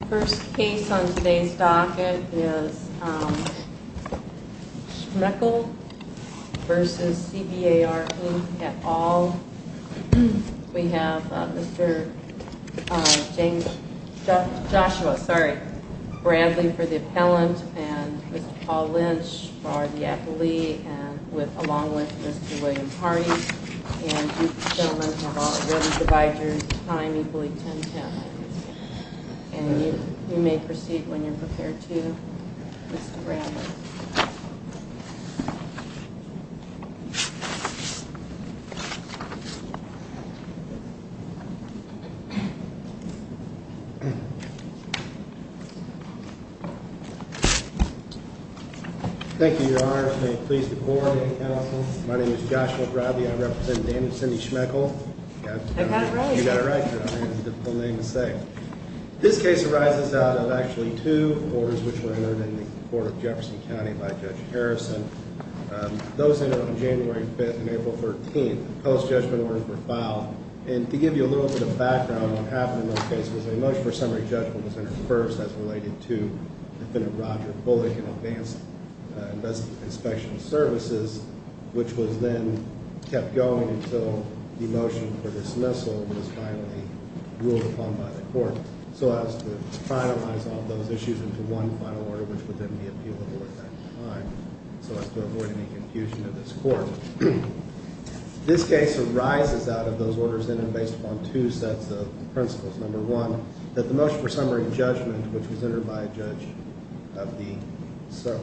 The first case on today's docket is Schmechel v. CBAR, who at all? We have Mr. Joshua Bradley for the appellant and Mr. Paul Lynch for the appellee, along with Mr. William Hardy. And you gentlemen have already divided your time equally ten times. And you may proceed when you're prepared to, Mr. Bradley. Thank you, Your Honor. May it please the Court and the Counsel. My name is Joshua Bradley. I represent the name of Cindy Schmechel. I got it right. You got it right, Your Honor. It's a difficult name to say. This case arises out of actually two orders which were entered in the court of Jefferson County by Judge Harrison. Those entered on January 5th and April 13th. Post-judgment orders were filed. And to give you a little bit of background on what happened in those cases, a motion for summary judgment was entered first as related to and advanced investigative and inspection services, which was then kept going until the motion for dismissal was finally ruled upon by the Court. So as to finalize all of those issues into one final order, which would then be appealable at that time, so as to avoid any confusion of this Court. This case arises out of those orders, then, based upon two sets of principles. Number one, that the motion for summary judgment, which was entered by a judge of the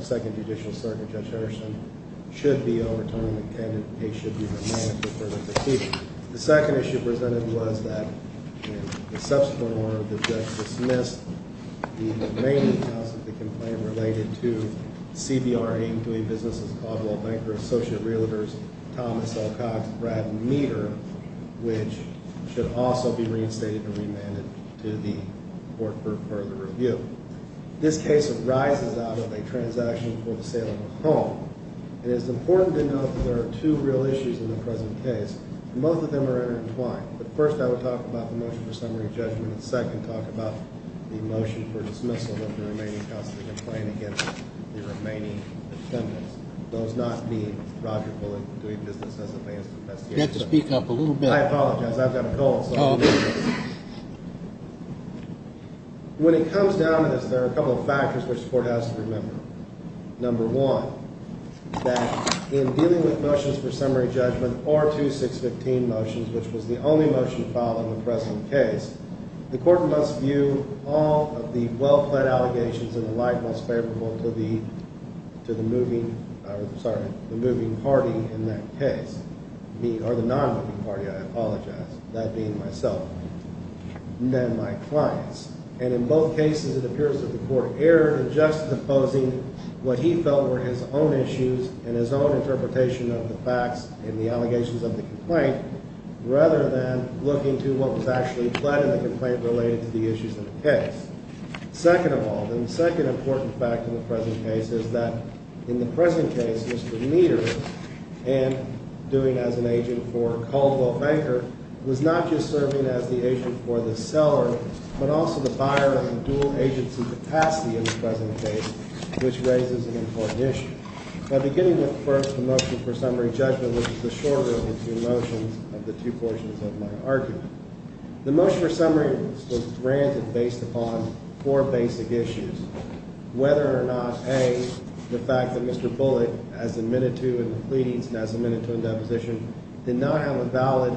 Second Judicial Circuit, Judge Harrison, should be overturned. The candidate should be remanded for further critique. The second issue presented was that in the subsequent order, the judge dismissed the remaining parts of the complaint related to CBRA, which should also be reinstated and remanded to the Court for further review. This case arises out of a transaction for the sale of a home. It is important to note that there are two real issues in the present case, and both of them are intertwined. But first, I would talk about the motion for summary judgment, and second, talk about the motion for dismissal of the remaining parts of the complaint against the remaining defendants. Those not being Roger Bullock, doing business as an advanced investigator. You have to speak up a little bit. I apologize. I've got a cold. When it comes down to this, there are a couple of factors which the Court has to remember. Number one, that in dealing with motions for summary judgment, or two 615 motions, which was the only motion filed in the present case, the Court must view all of the well-planned allegations in the light most favorable to the moving party in that case. Or the non-moving party, I apologize, that being myself and my clients. And in both cases, it appears that the Court erred in juxtaposing what he felt were his own issues and his own interpretation of the facts in the allegations of the complaint, rather than looking to what was actually pled in the complaint related to the issues in the case. Second of all, the second important fact in the present case is that in the present case, and doing as an agent for Caldwell Banker, was not just serving as the agent for the seller, but also the buyer of the dual agency capacity in the present case, which raises an important issue. Now, beginning with, first, the motion for summary judgment, which is the shorter of the two motions of the two portions of my argument, the motion for summary was granted based upon four basic issues, whether or not, A, the fact that Mr. Bullock, as admitted to in the pleadings and as admitted to in deposition, did not have a valid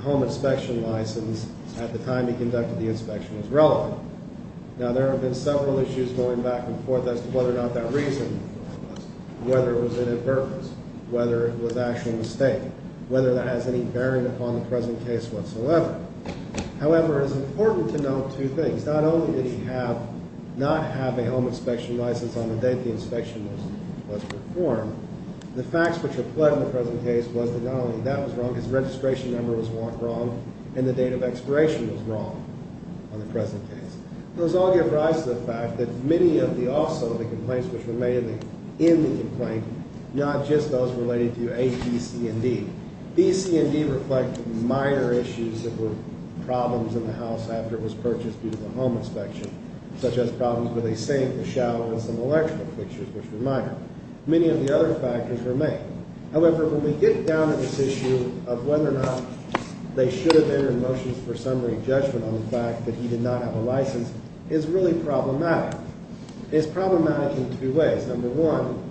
home inspection license at the time he conducted the inspection was relevant. Now, there have been several issues going back and forth as to whether or not that reason, whether it was inadvertent, whether it was actually a mistake, whether that has any bearing upon the present case whatsoever. However, it is important to note two things. Not only did he not have a home inspection license on the date the inspection was performed, the facts which apply in the present case was that not only that was wrong, his registration number was wrong, and the date of expiration was wrong on the present case. Those all give rise to the fact that many of the also of the complaints which were made in the complaint, not just those related to A, B, C, and D. B, C, and D reflect minor issues that were problems in the house after it was purchased due to the home inspection, such as problems with a sink, a shower, and some electrical fixtures, which were minor. Many of the other factors were made. However, when we get down to this issue of whether or not they should have entered motions for summary judgment on the fact that he did not have a license, it's really problematic. It's problematic in two ways. Number one,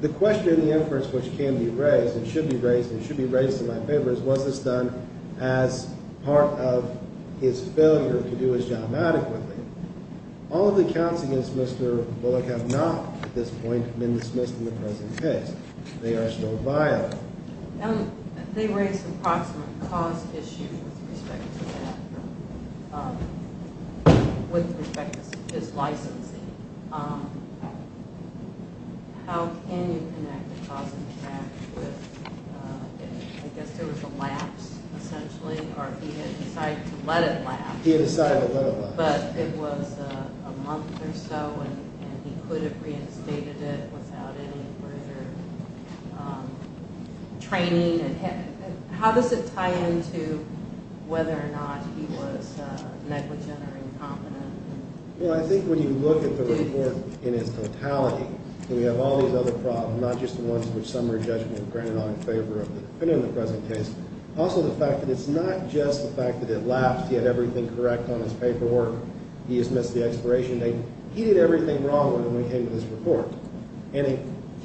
the question in the inference which can be raised and should be raised and should be raised in my favor is was this done as part of his failure to do his job adequately. All of the accounts against Mr. Bullock have not, at this point, been dismissed in the present case. They are still violent. They raised approximate cost issues with respect to that, with respect to his licensing. How can you connect the cost of the draft with, I guess there was a lapse, essentially, or he had decided to let it lapse. He had decided to let it lapse. But it was a month or so, and he could have reinstated it without any further training. How does it tie into whether or not he was negligent or incompetent? Well, I think when you look at the report in its totality, we have all these other problems, not just the ones which summary judgment granted on in favor of the present case. Also the fact that it's not just the fact that it lapsed. He had everything correct on his paperwork. He dismissed the expiration date. He did everything wrong when we came to this report. And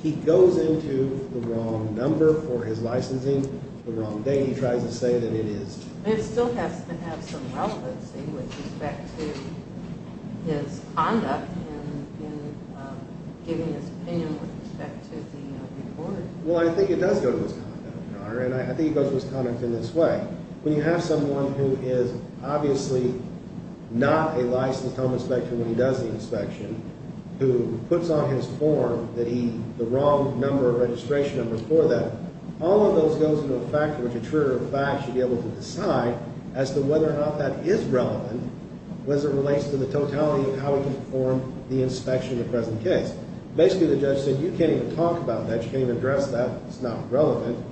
he goes into the wrong number for his licensing, the wrong date. He tries to say that it is. It still has to have some relevancy with respect to his conduct in giving his opinion with respect to the report. Well, I think it does go to his conduct, Your Honor. And I think it goes to his conduct in this way. When you have someone who is obviously not a licensed home inspector when he does the inspection, who puts on his form the wrong number of registration numbers for that, all of those goes into a factor which a trigger of fact should be able to decide as to whether or not that is relevant as it relates to the totality of how he can perform the inspection of the present case. Basically, the judge said you can't even talk about that. You can't even address that. It's not relevant.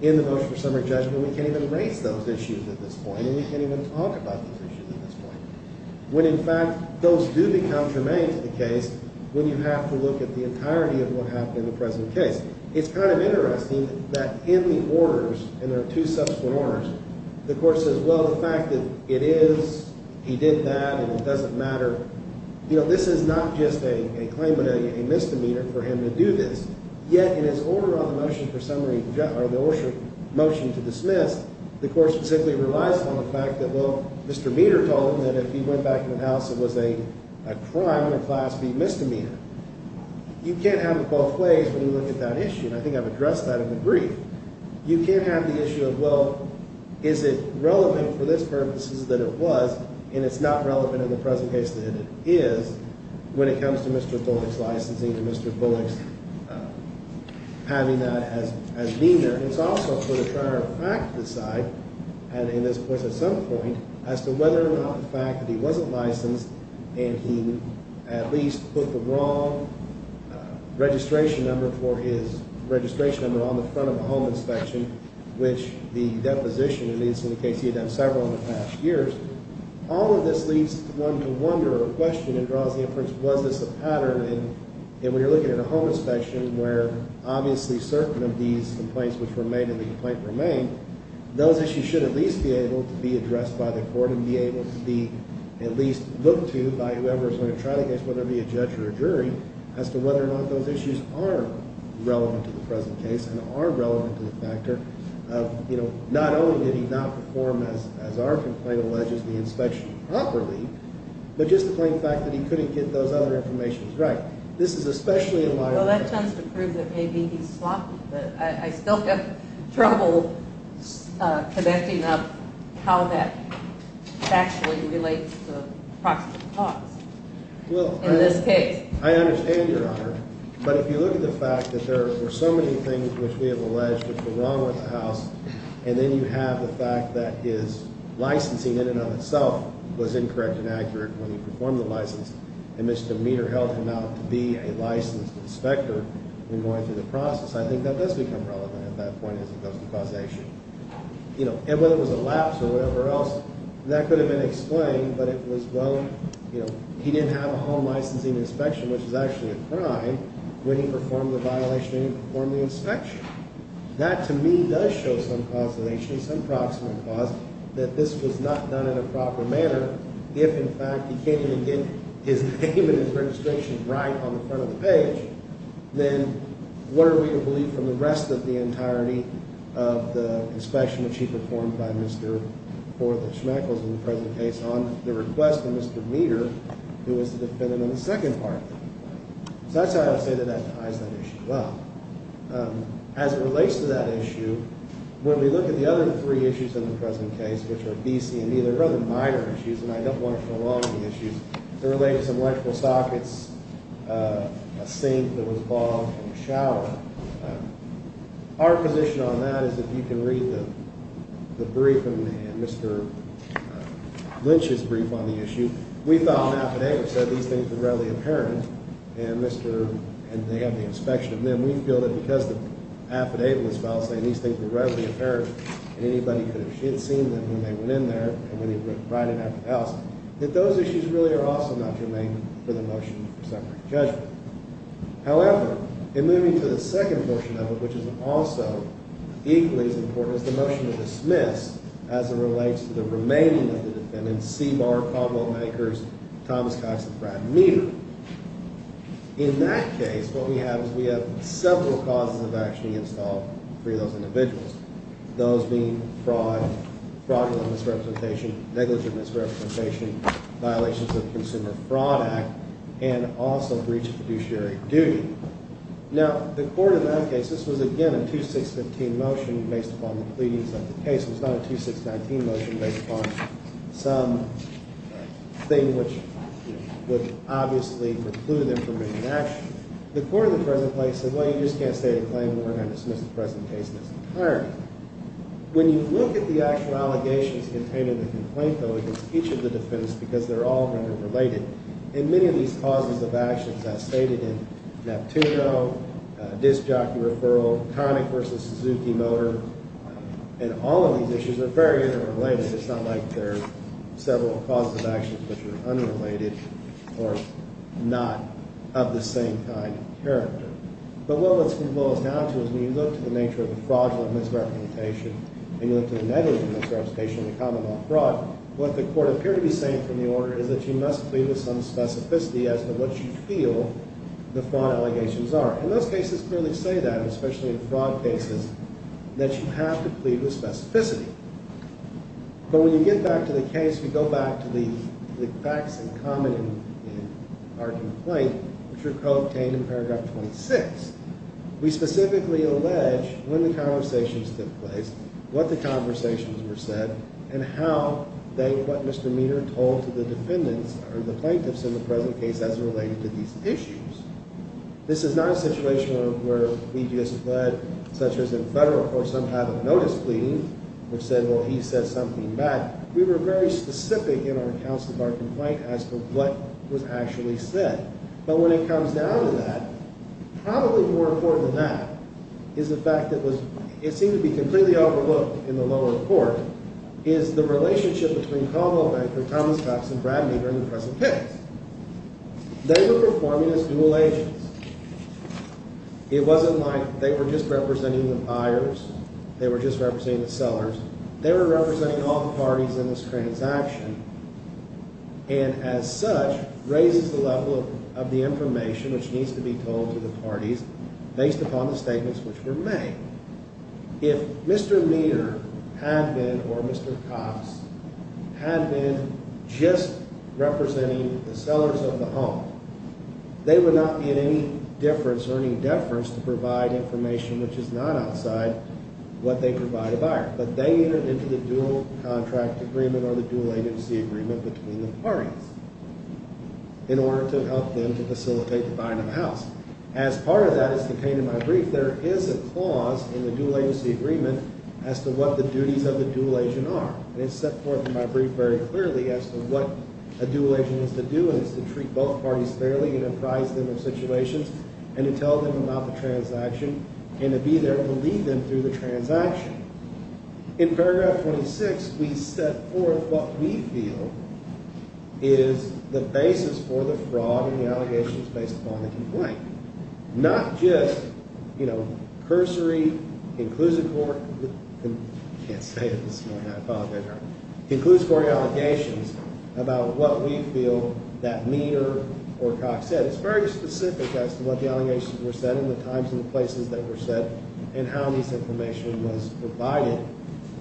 In the motion for summary judgment, we can't even raise those issues at this point. And we can't even talk about those issues at this point. When, in fact, those do become germane to the case when you have to look at the entirety of what happened in the present case. It's kind of interesting that in the orders, and there are two subsequent orders, the court says, well, the fact that it is, he did that, and it doesn't matter, you know, this is not just a claim but a misdemeanor for him to do this. Yet, in his order on the motion for summary judgment, or the motion to dismiss, the court simply relies on the fact that, well, Mr. Meter told him that if he went back to the house, it was a crime or class B misdemeanor. You can't have it both ways when you look at that issue, and I think I've addressed that in the brief. You can't have the issue of, well, is it relevant for this purposes that it was, and it's not relevant in the present case that it is when it comes to Mr. Bullock's licensing and Mr. Bullock's having that as meter. It's also for the prior fact to decide, and in this case at some point, as to whether or not the fact that he wasn't licensed and he at least put the wrong registration number for his registration number on the front of the home inspection, which the deposition, at least in the case he had done several in the past years, all of this leads one to wonder or question and draws the inference, was this a pattern? And when you're looking at a home inspection where obviously certain of these complaints which were made and the complaint remained, those issues should at least be able to be addressed by the court and be able to be at least looked to by whoever is going to try the case, whether it be a judge or a jury, as to whether or not those issues are relevant to the present case and are relevant to the factor of not only did he not perform, as our complaint alleges, the inspection properly, but just to claim the fact that he couldn't get those other informations right. This is especially in light of – Well, that tends to prove that maybe he's sloppy, but I still have trouble connecting up how that actually relates to the proximate cause in this case. I understand, Your Honor. But if you look at the fact that there were so many things which we have alleged were wrong with the house and then you have the fact that his licensing in and of itself was incorrect and accurate when he performed the license and Mr. Meader held him out to be a licensed inspector in going through the process, I think that does become relevant at that point as it goes to causation. And whether it was a lapse or whatever else, that could have been explained, but it was, well, you know, he didn't have a home licensing inspection, which is actually a crime, when he performed the violation and he performed the inspection. That, to me, does show some causation, some proximate cause, that this was not done in a proper manner. If, in fact, he can't even get his name and his registration right on the front of the page, then what are we to believe from the rest of the entirety of the inspection, which he performed by Mr. Forth and Schmeichel in the present case on the request of Mr. Meader, who was the defendant in the second part of it? So that's how I say that that ties that issue up. As it relates to that issue, when we look at the other three issues in the present case, which are B, C, and E, they're rather minor issues, and I don't want to prolong the issues. They relate to some electrical sockets, a sink that was bogged, and a shower. Our position on that is, if you can read the brief and Mr. Lynch's brief on the issue, we thought an affidavit said these things were readily apparent, and they have the inspection of them. We feel that because the affidavit was filed saying these things were readily apparent and anybody could have seen them when they went in there and when they went right in after the house, that those issues really are also not to make for the motion for separate judgment. However, in moving to the second portion of it, which is also equally as important as the motion to dismiss, as it relates to the remaining of the defendants, C. Barr, Commonwealth Bankers, Thomas Cox, and Brad Meader, in that case, what we have is we have several causes of action against all three of those individuals, those being fraud, fraudulent misrepresentation, negligent misrepresentation, violations of the Consumer Fraud Act, and also breach of fiduciary duty. Now, the court in that case, this was, again, a 2-6-15 motion based upon the pleadings of the case. It was not a 2-6-19 motion based upon some thing which would obviously preclude them from taking action. The court in the present place said, well, you just can't state a claim and we're going to dismiss the present case in its entirety. When you look at the actual allegations contained in the complaint, though, against each of the defendants, because they're all interrelated, and many of these causes of actions, as stated in Neptuno, disc jockey referral, Connick v. Suzuki Motor, and all of these issues are very interrelated. It's not like there are several causes of actions which are unrelated or not of the same kind of character. But what it boils down to is when you look to the nature of the fraudulent misrepresentation and you look to the negligent misrepresentation of the Commonwealth fraud, what the court appeared to be saying from the order is that you must plead with some specificity as to what you feel the fraud allegations are. And those cases clearly say that, especially in fraud cases, that you have to plead with specificity. But when you get back to the case, we go back to the facts in common in our complaint, which are co-obtained in paragraph 26. We specifically allege when the conversations took place, what the conversations were said, and how they, what Mr. Meador told to the defendants or the plaintiffs in the present case as it related to these issues. This is not a situation where we just fled, such as in federal court, somehow the notice pleading, which said, well, he said something back. We were very specific in our accounts of our complaint as to what was actually said. But when it comes down to that, probably more important than that is the fact that it seemed to be completely overlooked in the lower court is the relationship between Conwell Banker, Thomas Hux, and Brad Meador in the present case. They were performing as dual agents. It wasn't like they were just representing the buyers. They were just representing the sellers. They were representing all the parties in this transaction. And as such, raises the level of the information which needs to be told to the parties based upon the statements which were made. If Mr. Meador had been or Mr. Cox had been just representing the sellers of the home, they would not be at any difference or any deference to provide information which is not outside what they provide a buyer. But they entered into the dual contract agreement or the dual agency agreement between the parties in order to help them to facilitate the buying of the house. As part of that as contained in my brief, there is a clause in the dual agency agreement as to what the duties of the dual agent are. And it's set forth in my brief very clearly as to what a dual agent is to do and it's to treat both parties fairly and to prize them in situations and to tell them about the transaction and to be there to lead them through the transaction. In paragraph 26, we set forth what we feel is the basis for the fraud and the allegations based upon the complaint. Not just, you know, cursory conclusive court. I can't say it. Conclusive court allegations about what we feel that Meador or Cox said. It's very specific as to what the allegations were said and the times and the places they were said and how this information was provided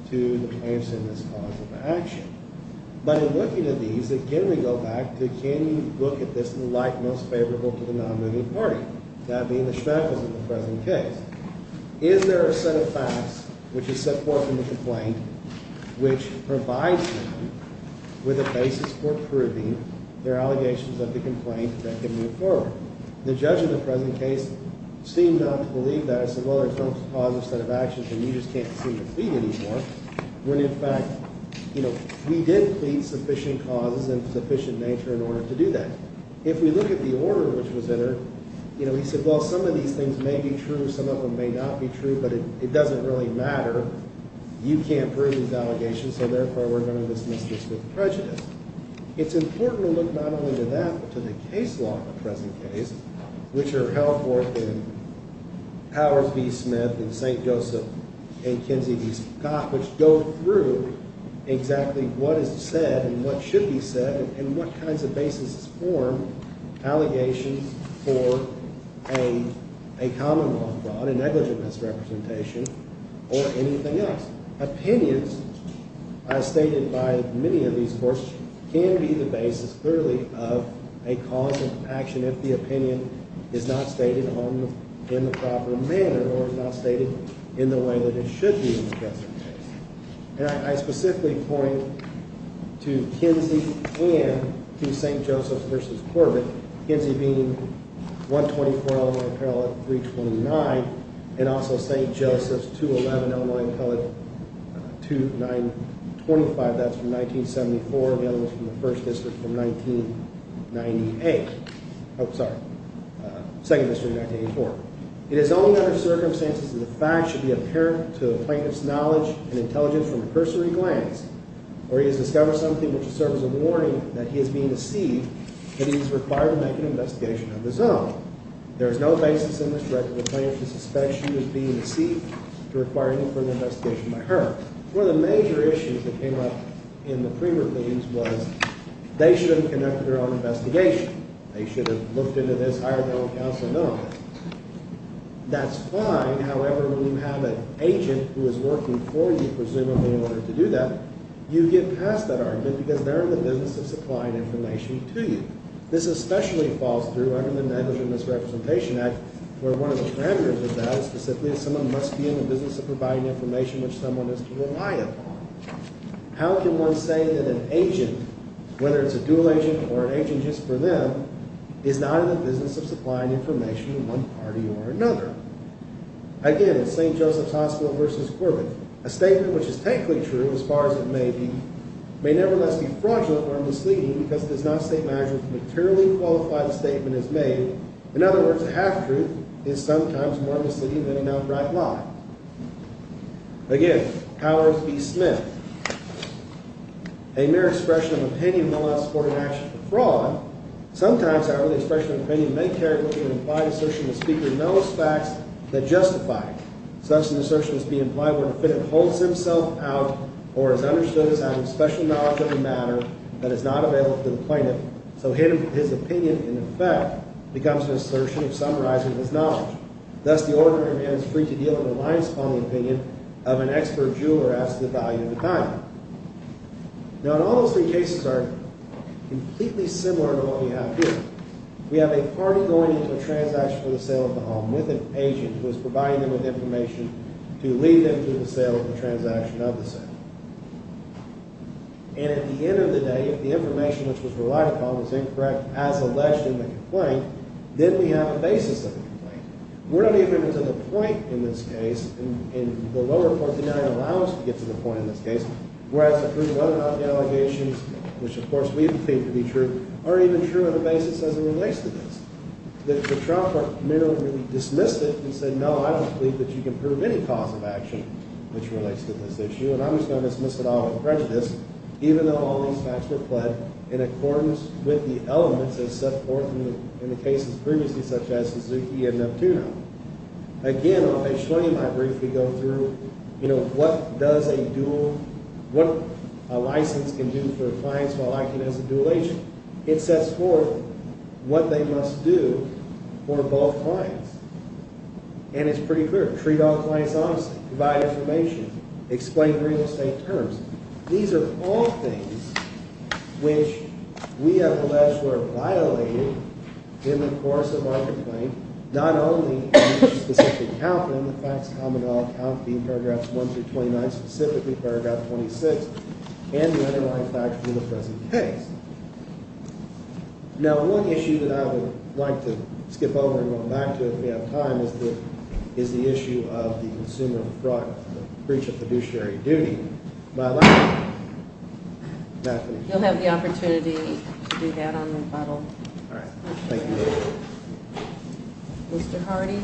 to answer this cause of action. But in looking at these, again, we go back to can you look at this in the light most favorable to the non-moving party? That being the schmackles of the present case. Is there a set of facts, which is set forth in the complaint, which provides them with a basis for proving their allegations of the complaint that can move forward? The judge in the present case seemed not to believe that. I said, well, there's no positive set of actions and you just can't seem to plead anymore. When in fact, you know, we did plead sufficient causes and sufficient nature in order to do that. If we look at the order which was entered, you know, he said, well, some of these things may be true. Some of them may not be true, but it doesn't really matter. You can't prove these allegations, so therefore we're going to dismiss this with prejudice. It's important to look not only to that, but to the case law in the present case, which are held forth in Howard v. Smith and St. Joseph and Kinsey v. Scott, which go through exactly what is said and what should be said and what kinds of basis is formed, allegations for a common law, a negligent misrepresentation or anything else. Opinions, as stated by many of these courts, can be the basis clearly of a cause of action if the opinion is not stated in the proper manner or is not stated in the way that it should be in the present case. And I specifically point to Kinsey and to St. Joseph v. Corbett, Kinsey being 124 Illinois Appellate 329 and also St. Joseph's 211 Illinois Appellate 2925. That's from 1974. The other one's from the 1st District from 1998. Oh, sorry. 2nd District, 1984. It is only under circumstances that the fact should be apparent to the plaintiff's knowledge and intelligence from a cursory glance or he has discovered something which serves as a warning that he is being deceived that he is required to make an investigation of his own. There is no basis in this record for the plaintiff to suspect she was being deceived to require any further investigation by her. One of the major issues that came up in the pre-release was they should have conducted their own investigation. They should have looked into this, hired their own counsel. No, that's fine. However, when you have an agent who is working for you, presumably, in order to do that, you get past that argument because they're in the business of supplying information to you. This especially falls through under the Negligent Misrepresentation Act where one of the parameters of that is specifically that someone must be in the business of providing information which someone is to rely upon. How can one say that an agent, whether it's a dual agent or an agent just for them, is not in the business of supplying information to one party or another? Again, it's St. Joseph's Hospital versus Corbett. A statement which is technically true as far as it may be may nevertheless be fraudulent or misleading because it does not state matters materially qualified the statement is made. In other words, a half-truth is sometimes more misleading than an outright lie. Again, Howard B. Smith. A mere expression of opinion will not support an action for fraud. Sometimes, however, the expression of opinion may carry with it an implied assertion the speaker knows facts that justify it. Such an assertion must be implied where the defendant holds himself out or is understood as having special knowledge of the matter that is not available to the plaintiff so his opinion, in effect, becomes an assertion of summarizing his knowledge. Thus, the order remains free to deal in reliance upon the opinion of an expert juror as to the value of the time. Now, in all those three cases are completely similar to what we have here. We have a party going into a transaction for the sale of the home with an agent who is providing them with information to lead them to the sale of the transaction of the sale. And at the end of the day, if the information which was relied upon was incorrect as alleged in the complaint, then we have a basis of the complaint. We're not even to the point in this case, and the lower court denial allows us to get to the point in this case, whereas the proof of whether or not the allegations, which of course we deem to be true, are even true on the basis as it relates to this. The trial court merely dismissed it and said, no, I don't believe that you can prove any cause of action which relates to this issue and I'm just going to dismiss it all with prejudice, even though all these facts were pled in accordance with the elements that set forth in the cases previously, such as Suzuki and Neptuno. Again, I'll show you my brief. We go through, you know, what does a dual, what a license can do for clients while acting as a dual agent. It sets forth what they must do for both clients. And it's pretty clear. Treat all clients honestly. Provide information. Explain real estate terms. These are all things which we have alleged were violated in the course of our complaint, not only in this specific account, but in the facts common to all accounts, being paragraphs 1 through 29, specifically paragraph 26, and the underlying facts in the present case. Now, one issue that I would like to skip over and go back to if we have time is the issue of the consumer fraud breach of fiduciary duty. My last one. You'll have the opportunity to do that on rebuttal. All right. Thank you. Mr. Hardy.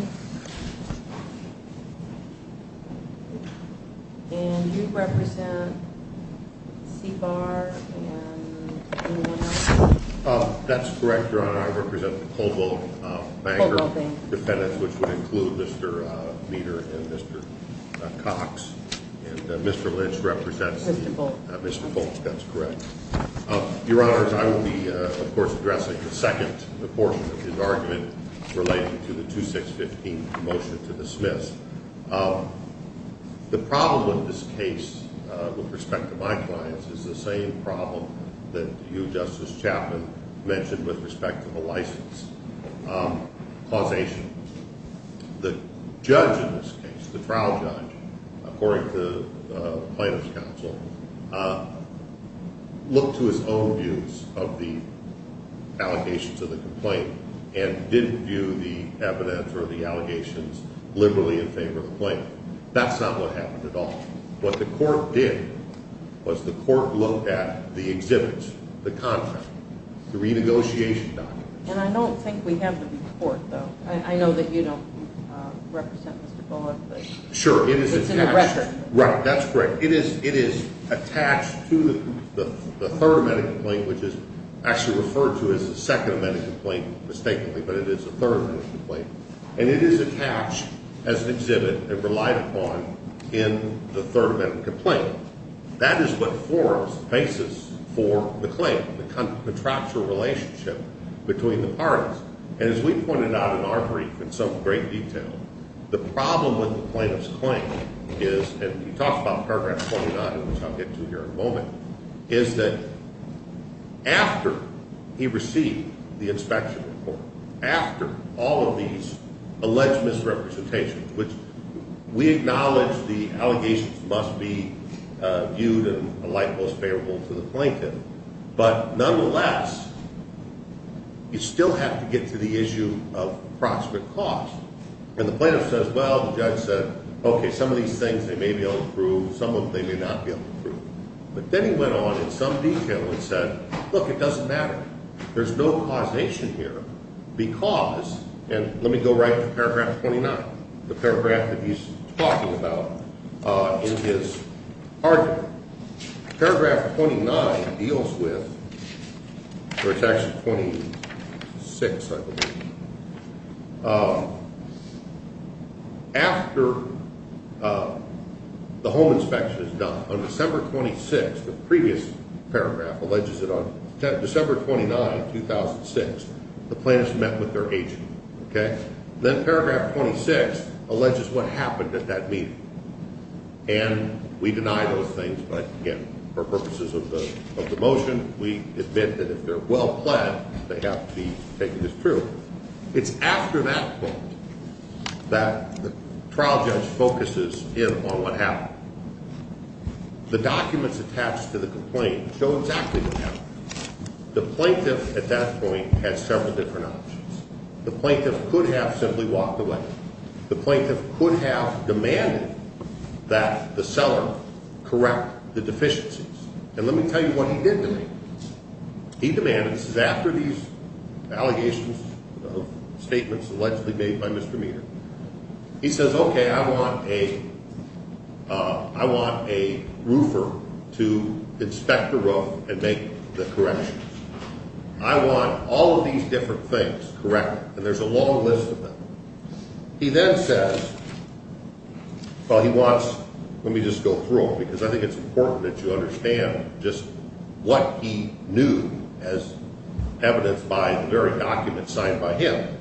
And you represent CBAR and anyone else? That's correct, Your Honor. I represent Coldwell Banker. Coldwell Bank. Dependents, which would include Mr. Meter and Mr. Cox. And Mr. Lynch represents Mr. Boltz. Mr. Boltz. That's correct. Your Honors, I will be, of course, addressing the second portion of his argument relating to the 2615 motion to dismiss. The problem with this case, with respect to my clients, is the same problem that you, Justice Chapman, mentioned with respect to the license. Causation. The judge in this case, the trial judge, according to the plaintiff's counsel, looked to his own views of the allegations of the complaint and didn't view the evidence or the allegations liberally in favor of the plaintiff. That's not what happened at all. What the court did was the court looked at the exhibits, the contract, the renegotiation documents. And I don't think we have the report, though. I know that you don't represent Mr. Bullock. Sure. It's in the record. Right. That's correct. It is attached to the third amendment complaint, which is actually referred to as the second amendment complaint, mistakenly, but it is the third amendment complaint. And it is attached as an exhibit and relied upon in the third amendment complaint. That is what forms the basis for the claim, the contractual relationship between the parties. And as we pointed out in our brief in some great detail, the problem with the plaintiff's claim is, and we talked about paragraph 29, which I'll get to here in a moment, is that after he received the inspection report, after all of these alleged misrepresentations, which we acknowledge the allegations must be viewed in a light most favorable to the plaintiff, but nonetheless, you still have to get to the issue of proximate cause. And the plaintiff says, well, the judge said, okay, some of these things they may be able to prove, some of them they may not be able to prove. But then he went on in some detail and said, look, it doesn't matter. There's no causation here because, and let me go right to paragraph 29, the paragraph that he's talking about in his argument. Paragraph 29 deals with, or it's actually 26, I believe, after the home inspection is done, on December 26, the previous paragraph alleges it on December 29, 2006, the plaintiff met with their agent. Okay? Then paragraph 26 alleges what happened at that meeting. And we deny those things, but again, for purposes of the motion, we admit that if they're well-planned, they have to be taken as true. It's after that point that the trial judge focuses in on what happened. The documents attached to the complaint show exactly what happened. The plaintiff at that point had several different options. The plaintiff could have simply walked away. The plaintiff could have demanded that the seller correct the deficiencies. And let me tell you what he did to me. He demanded, this is after these allegations of statements allegedly made by Mr. Meader, he says, okay, I want a roofer to inspect the roof and make the corrections. I want all of these different things corrected, and there's a long list of them. He then says, well, he wants, let me just go through them, because I think it's important that you understand just what he knew as evidenced by the very documents signed by him.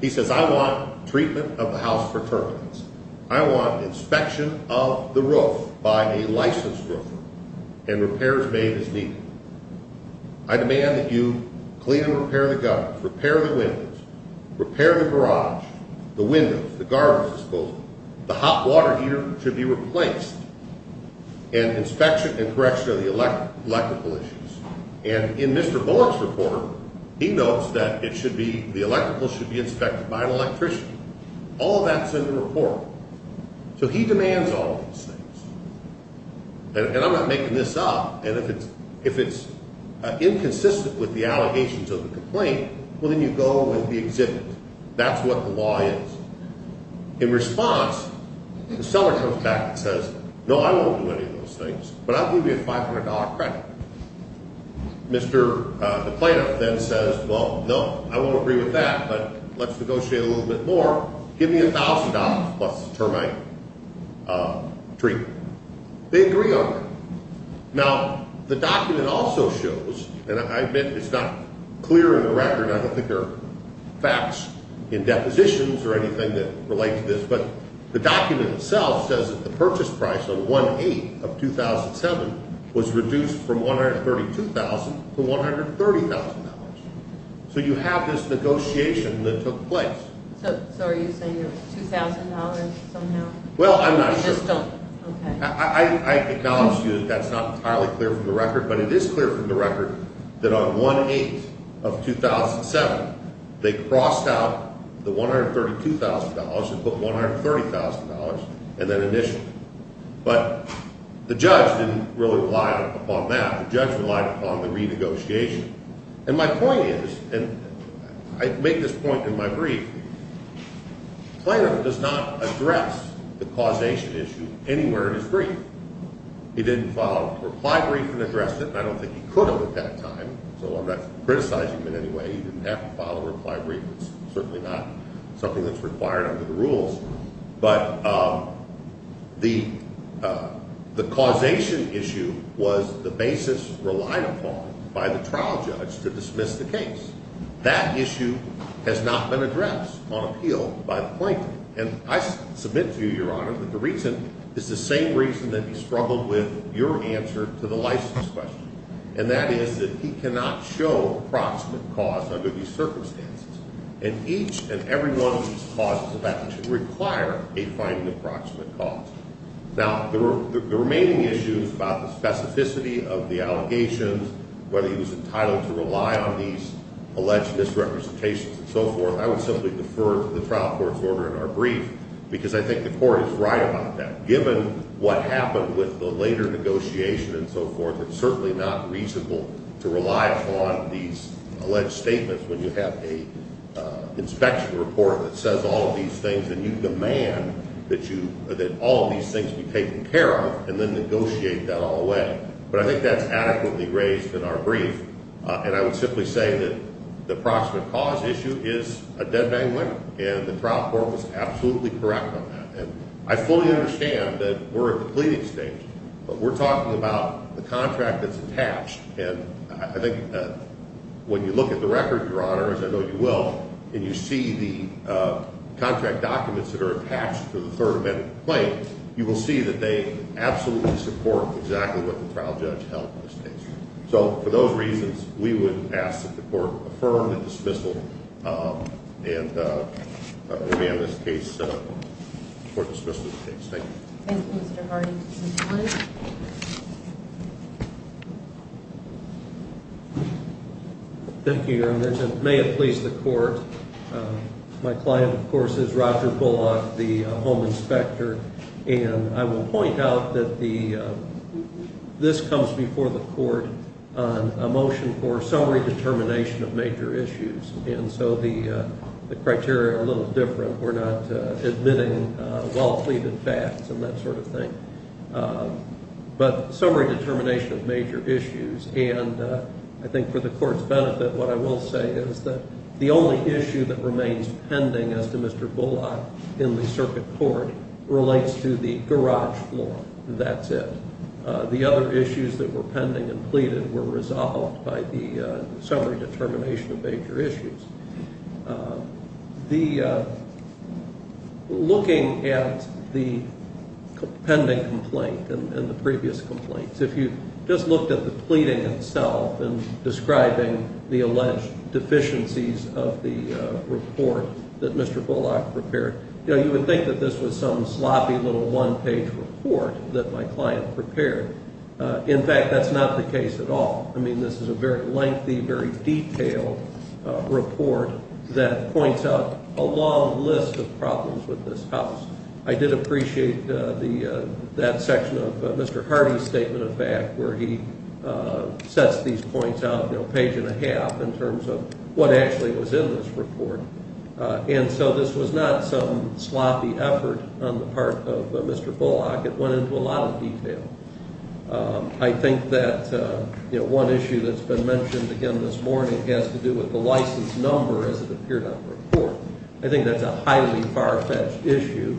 He says, I want treatment of the house for turbulence. I want inspection of the roof by a licensed roofer and repairs made as needed. I demand that you clean and repair the gutters, repair the windows, repair the garage, the windows, the garbage disposal. The hot water heater should be replaced. And inspection and correction of the electrical issues. And in Mr. Bullock's report, he notes that it should be, the electrical should be inspected by an electrician. All that's in the report. So he demands all of these things. And I'm not making this up. And if it's inconsistent with the allegations of the complaint, well, then you go with the exhibit. That's what the law is. In response, the seller comes back and says, no, I won't do any of those things, but I'll give you a $500 credit. Mr. DePlano then says, well, no, I won't agree with that, but let's negotiate a little bit more. Give me $1,000 plus the termite treatment. They agree on that. Now, the document also shows, and I admit it's not clear in the record. I don't think there are facts in depositions or anything that relates to this. But the document itself says that the purchase price on 1-8 of 2007 was reduced from $132,000 to $130,000. So you have this negotiation that took place. So are you saying it was $2,000 somehow? Well, I'm not sure. You just don't? Okay. I acknowledge to you that that's not entirely clear from the record, but it is clear from the record that on 1-8 of 2007, they crossed out the $132,000 and put $130,000 and then initialed it. But the judge didn't really rely upon that. The judge relied upon the renegotiation. And my point is, and I make this point in my brief, Plano does not address the causation issue anywhere in his brief. He didn't file a reply brief and address it, and I don't think he could have at that time, so I'm not criticizing him in any way. He didn't have to file a reply brief. It's certainly not something that's required under the rules. But the causation issue was the basis relied upon by the trial judge to dismiss the case. That issue has not been addressed on appeal by the plaintiff. And I submit to you, Your Honor, that the reason is the same reason that he struggled with your answer to the license question, and that is that he cannot show proximate cause under these circumstances. And each and every one of these causes is about to require a finding of proximate cause. Now, the remaining issues about the specificity of the allegations, whether he was entitled to rely on these alleged misrepresentations and so forth, I would simply defer to the trial court's order in our brief because I think the court is right about that. Given what happened with the later negotiation and so forth, it's certainly not reasonable to rely upon these alleged statements when you have an inspection report that says all of these things and you demand that all of these things be taken care of and then negotiate that all away. But I think that's adequately raised in our brief, and I would simply say that the proximate cause issue is a dead-bang winner, and the trial court was absolutely correct on that. And I fully understand that we're at the pleading stage, but we're talking about the contract that's attached, and I think when you look at the record, Your Honor, as I know you will, and you see the contract documents that are attached to the third amendment claim, you will see that they absolutely support exactly what the trial judge held in this case. So for those reasons, we would ask that the court affirm the dismissal, and we'll be on this case before dismissal of the case. Thank you. Thank you, Mr. Hardy. Thank you, Your Honor. May it please the court, my client, of course, is Roger Bullock, the home inspector, and I will point out that this comes before the court on a motion for summary determination of major issues, and so the criteria are a little different. We're not admitting well-pleaded facts and that sort of thing, but summary determination of major issues, and I think for the court's benefit, what I will say is that the only issue that remains pending as to Mr. Bullock in the circuit court relates to the garage floor. That's it. The other issues that were pending and pleaded were resolved by the summary determination of major issues. Looking at the pending complaint and the previous complaints, if you just looked at the pleading itself and describing the alleged deficiencies of the report that Mr. Bullock prepared, you would think that this was some sloppy little one-page report that my client prepared. In fact, that's not the case at all. I mean, this is a very lengthy, very detailed report that points out a long list of problems with this house. I did appreciate that section of Mr. Hardy's statement of fact where he sets these points out, page and a half in terms of what actually was in this report, and so this was not some sloppy effort on the part of Mr. Bullock. It went into a lot of detail. I think that one issue that's been mentioned again this morning has to do with the license number as it appeared on the report. I think that's a highly far-fetched issue.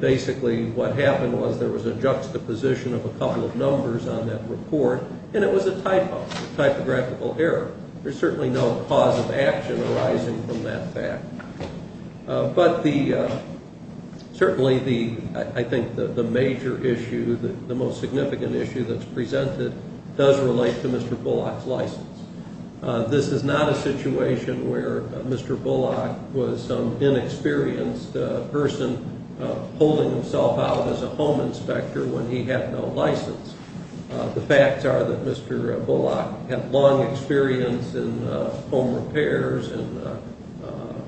Basically, what happened was there was a juxtaposition of a couple of numbers on that report, and it was a typographical error. There's certainly no cause of action arising from that fact. But certainly I think the major issue, the most significant issue that's presented does relate to Mr. Bullock's license. This is not a situation where Mr. Bullock was some inexperienced person holding himself out as a home inspector when he had no license. The facts are that Mr. Bullock had long experience in home repairs and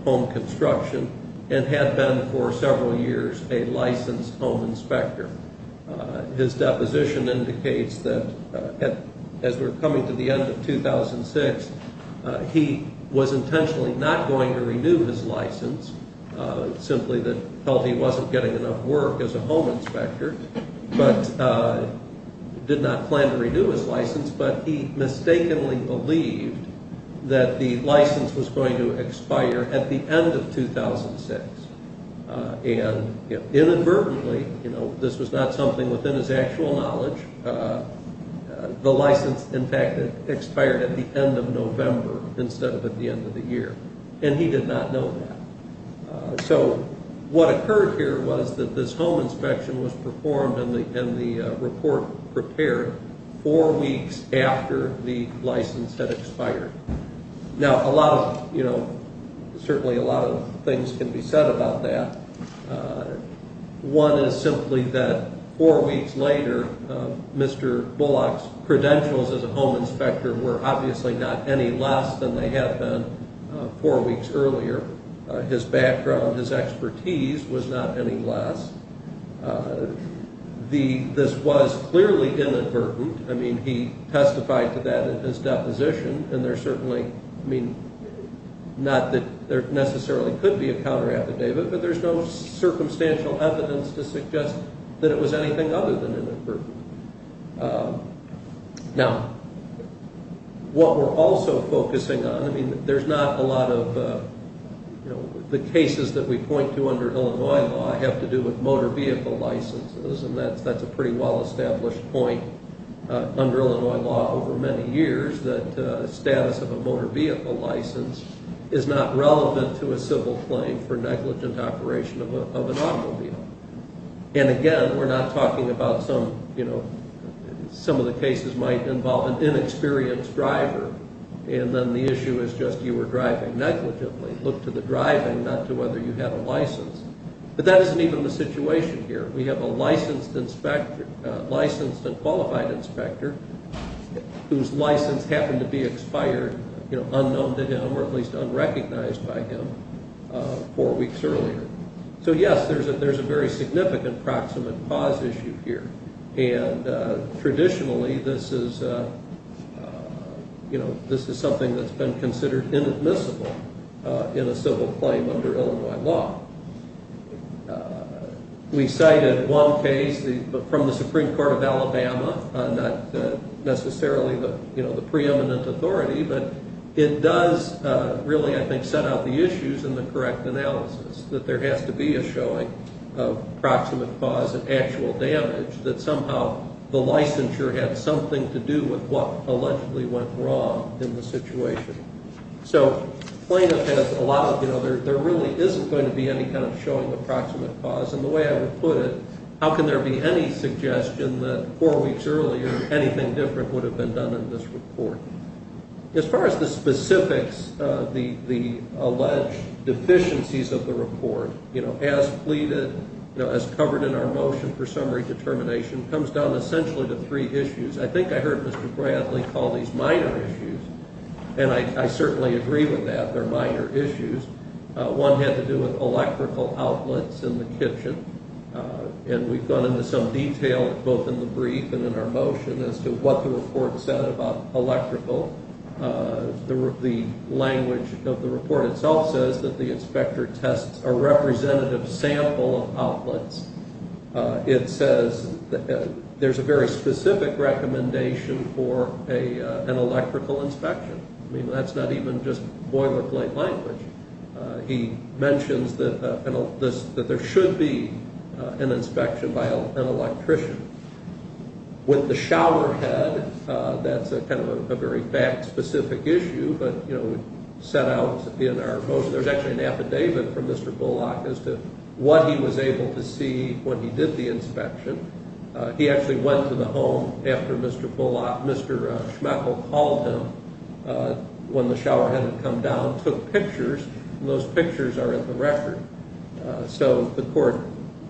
home construction and had been for several years a licensed home inspector. His deposition indicates that as we're coming to the end of 2006, he was intentionally not going to renew his license, simply that he felt he wasn't getting enough work as a home inspector, but did not plan to renew his license. But he mistakenly believed that the license was going to expire at the end of 2006. And inadvertently, this was not something within his actual knowledge, the license, in fact, expired at the end of November instead of at the end of the year. And he did not know that. So what occurred here was that this home inspection was performed and the report prepared four weeks after the license had expired. Now, a lot of, you know, certainly a lot of things can be said about that. One is simply that four weeks later, Mr. Bullock's credentials as a home inspector were obviously not any less than they had been four weeks earlier. His background, his expertise was not any less. This was clearly inadvertent. I mean, he testified to that in his deposition, and there certainly, I mean, not that there necessarily could be a counter affidavit, but there's no circumstantial evidence to suggest that it was anything other than inadvertent. Now, what we're also focusing on, I mean, there's not a lot of, you know, the cases that we point to under Illinois law have to do with motor vehicle licenses, and that's a pretty well-established point under Illinois law over many years, that the status of a motor vehicle license is not relevant to a civil claim for negligent operation of an automobile. And again, we're not talking about some, you know, some of the cases might involve an inexperienced driver, and then the issue is just you were driving negligently. Look to the driving, not to whether you have a license. But that isn't even the situation here. We have a licensed and qualified inspector whose license happened to be expired, you know, unknown to him, or at least unrecognized by him four weeks earlier. So yes, there's a very significant proximate cause issue here, and traditionally this is, you know, this is something that's been considered inadmissible in a civil claim under Illinois law. We cited one case from the Supreme Court of Alabama, not necessarily, you know, the preeminent authority, but it does really, I think, set out the issues in the correct analysis, that there has to be a showing of proximate cause and actual damage, that somehow the licensure had something to do with what allegedly went wrong in the situation. So plaintiff has a lot of, you know, there really isn't going to be any kind of showing of proximate cause, and the way I would put it, how can there be any suggestion that four weeks earlier anything different would have been done in this report? As far as the specifics, the alleged deficiencies of the report, you know, as pleaded, you know, as covered in our motion for summary determination, comes down essentially to three issues. I think I heard Mr. Bradley call these minor issues, and I certainly agree with that, they're minor issues. One had to do with electrical outlets in the kitchen, and we've gone into some detail both in the brief and in our motion as to what the report said about electrical. The language of the report itself says that the inspector tests a representative sample of outlets. It says there's a very specific recommendation for an electrical inspection. I mean, that's not even just boilerplate language. He mentions that there should be an inspection by an electrician. With the showerhead, that's kind of a very fact-specific issue, but, you know, set out in our motion. There's actually an affidavit from Mr. Bullock as to what he was able to see when he did the inspection. He actually went to the home after Mr. Bullock, Mr. Schmechel called him when the showerhead had come down, took pictures, and those pictures are in the record. So the court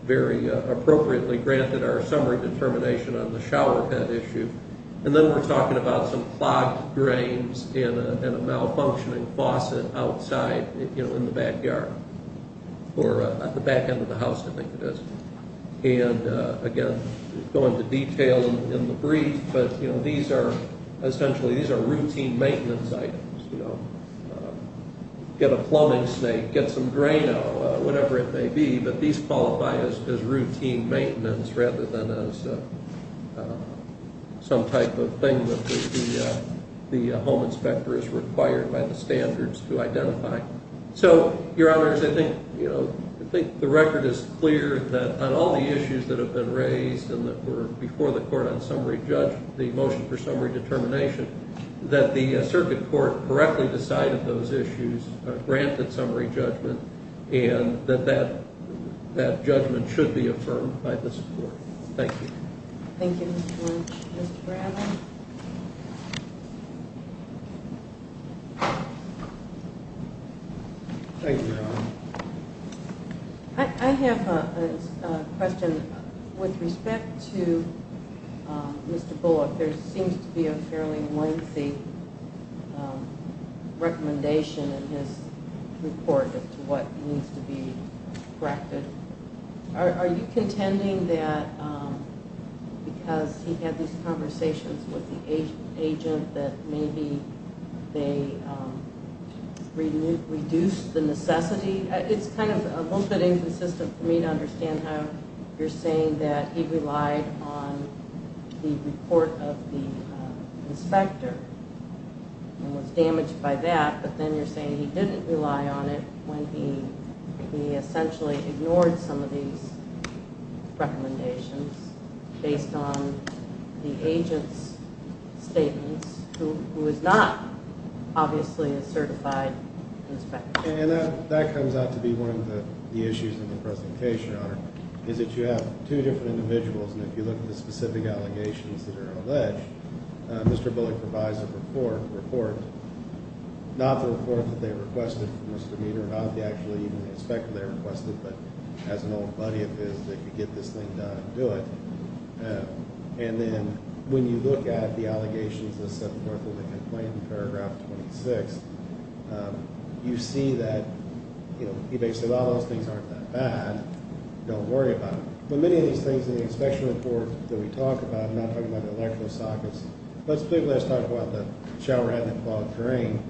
very appropriately granted our summary determination on the showerhead issue. And then we're talking about some clogged drains and a malfunctioning faucet outside, you know, in the backyard. Or at the back end of the house, I think it is. And, again, go into detail in the brief, but, you know, these are essentially, these are routine maintenance items. You know, get a plumbing snake, get some Drano, whatever it may be, but these qualify as routine maintenance rather than as some type of thing that the home inspector is required by the standards to identify. So, Your Honors, I think, you know, I think the record is clear that on all the issues that have been raised and that were before the court on summary judgment, the motion for summary determination, that the circuit court correctly decided those issues, granted summary judgment, and that that judgment should be affirmed by this court. Thank you. Thank you, Mr. Lynch. Mr. Bradley? Thank you, Your Honor. I have a question. With respect to Mr. Bullock, there seems to be a fairly lengthy recommendation in his report as to what needs to be corrected. Are you contending that because he had these conversations with the agent that maybe they reduced the necessity? It's kind of a little bit inconsistent for me to understand how you're saying that he relied on the report of the inspector and was damaged by that, but then you're saying he didn't rely on it when he essentially ignored some of these recommendations based on the agent's statements, who is not obviously a certified inspector. And that comes out to be one of the issues in the presentation, Your Honor, is that you have two different individuals, and if you look at the specific allegations that are alleged, Mr. Bullock provides a report, not the report that they requested from Mr. Meader, not actually even the inspector they requested, but has an old buddy of his that could get this thing done and do it. And then when you look at the allegations that set forth in the complaint in paragraph 26, you see that, you know, he basically said, well, those things aren't that bad. Don't worry about them. But many of these things in the inspection report that we talk about, I'm not talking about the electrical sockets, let's talk about the shower head that clogged the drain.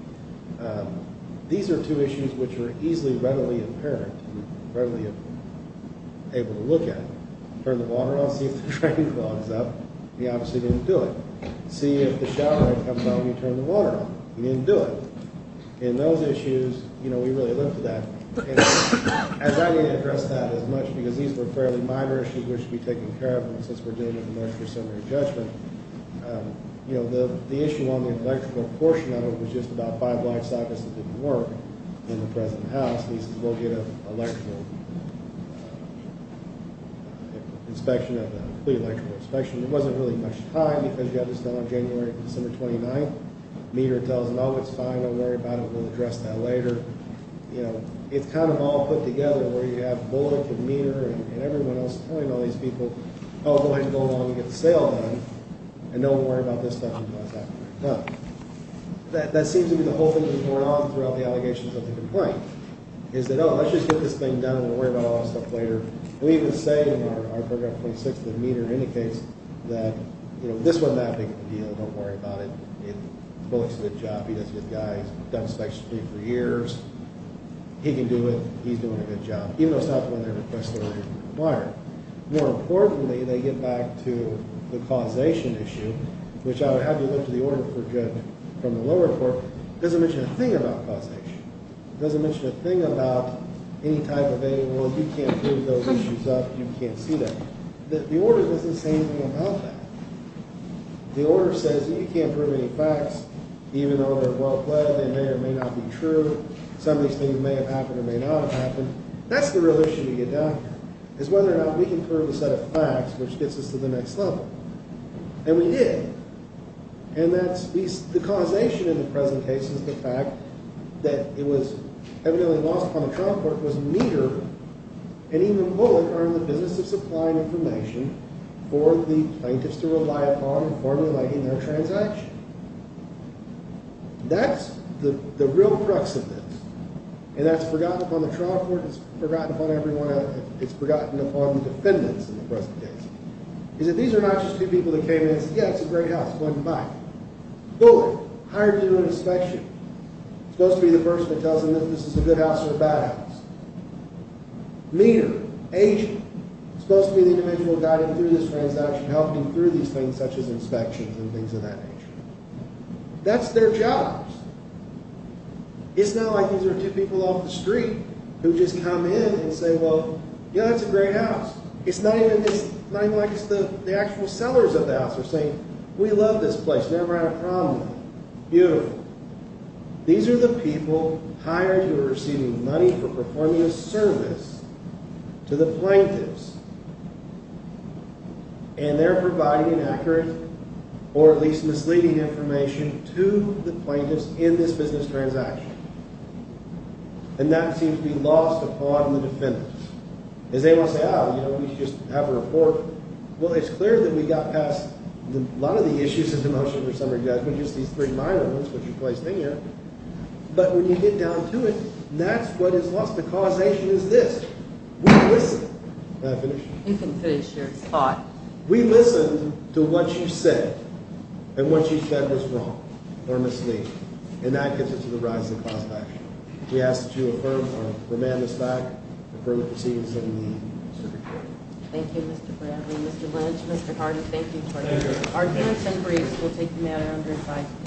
These are two issues which are easily readily apparent, readily able to look at. Turn the water on, see if the drain clogs up. He obviously didn't do it. See if the shower head comes on, you turn the water on. He didn't do it. And those issues, you know, we really looked at that. I don't need to address that as much because these were fairly minor issues which should be taken care of since we're dealing with the Minister of Cemetery Judgment. You know, the issue on the electrical portion of it was just about five black sockets that didn't work in the present house. He says we'll get an electrical inspection of that, a complete electrical inspection. There wasn't really much time because you have this done on January and December 29th. Meader tells them, oh, it's fine, don't worry about it, we'll address that later. You know, it's kind of all put together where you have Bullock and Meader and everyone else telling all these people, oh, go ahead and go along and get the sale done and don't worry about this stuff until it's actually done. That seems to be the whole thing that's going on throughout the allegations of the complaint is that, oh, let's just get this thing done, we'll worry about all this stuff later. We even say in our Program 26 that Meader indicates that, you know, this wasn't that big of a deal, don't worry about it. Bullock's a good job, he does good guys, done inspection for years, he can do it, he's doing a good job, even though it's not one of their requests that are required. More importantly, they get back to the causation issue, which I would have to look to the order for judgment from the lower court. It doesn't mention a thing about causation. It doesn't mention a thing about any type of thing, well, if you can't prove those issues up, you can't see them. The order doesn't say anything about that. The order says you can't prove any facts, even though they're well played, they may or may not be true. Some of these things may have happened or may not have happened. That's the real issue to get down here, is whether or not we can prove a set of facts which gets us to the next level. And we did. And that's the causation in the present case is the fact that it was evidently lost upon the trial court was Meader and even Bullard are in the business of supplying information for the plaintiffs to rely upon in formulating their transaction. That's the real crux of this, and that's forgotten upon the trial court, it's forgotten upon everyone else, it's forgotten upon the defendants in the present case, is that these are not just two people that came in and said, yeah, it's a great house, go ahead and buy it. Bullard, hired to do an inspection, supposed to be the person that tells them if this is a good house or a bad house. Meader, agent, supposed to be the individual guiding through this transaction, helping through these things such as inspections and things of that nature. That's their jobs. It's not like these are two people off the street who just come in and say, well, yeah, that's a great house. It's not even like it's the actual sellers of the house are saying, we love this place, never had a problem with it, beautiful. These are the people hired who are receiving money for performing a service to the plaintiffs, and they're providing inaccurate or at least misleading information to the plaintiffs in this business transaction. And that seems to be lost upon the defendants. As they want to say, oh, you know, we just have a report. Well, it's clear that we got past a lot of the issues of the motion for summary judgment, just these three minor ones, but when you get down to it, that's what is lost. The causation is this. We listen. Can I finish? You can finish your thought. We listen to what you said and what you said was wrong or misleading. And that gets us to the rise of the class action. We ask that you affirm or remand this back, approve the proceedings of the circuit court. Thank you, Mr. Bradley. Mr. Lynch, Mr. Carter, thank you for your work. Our hearings and briefs will take the matter under its eyes.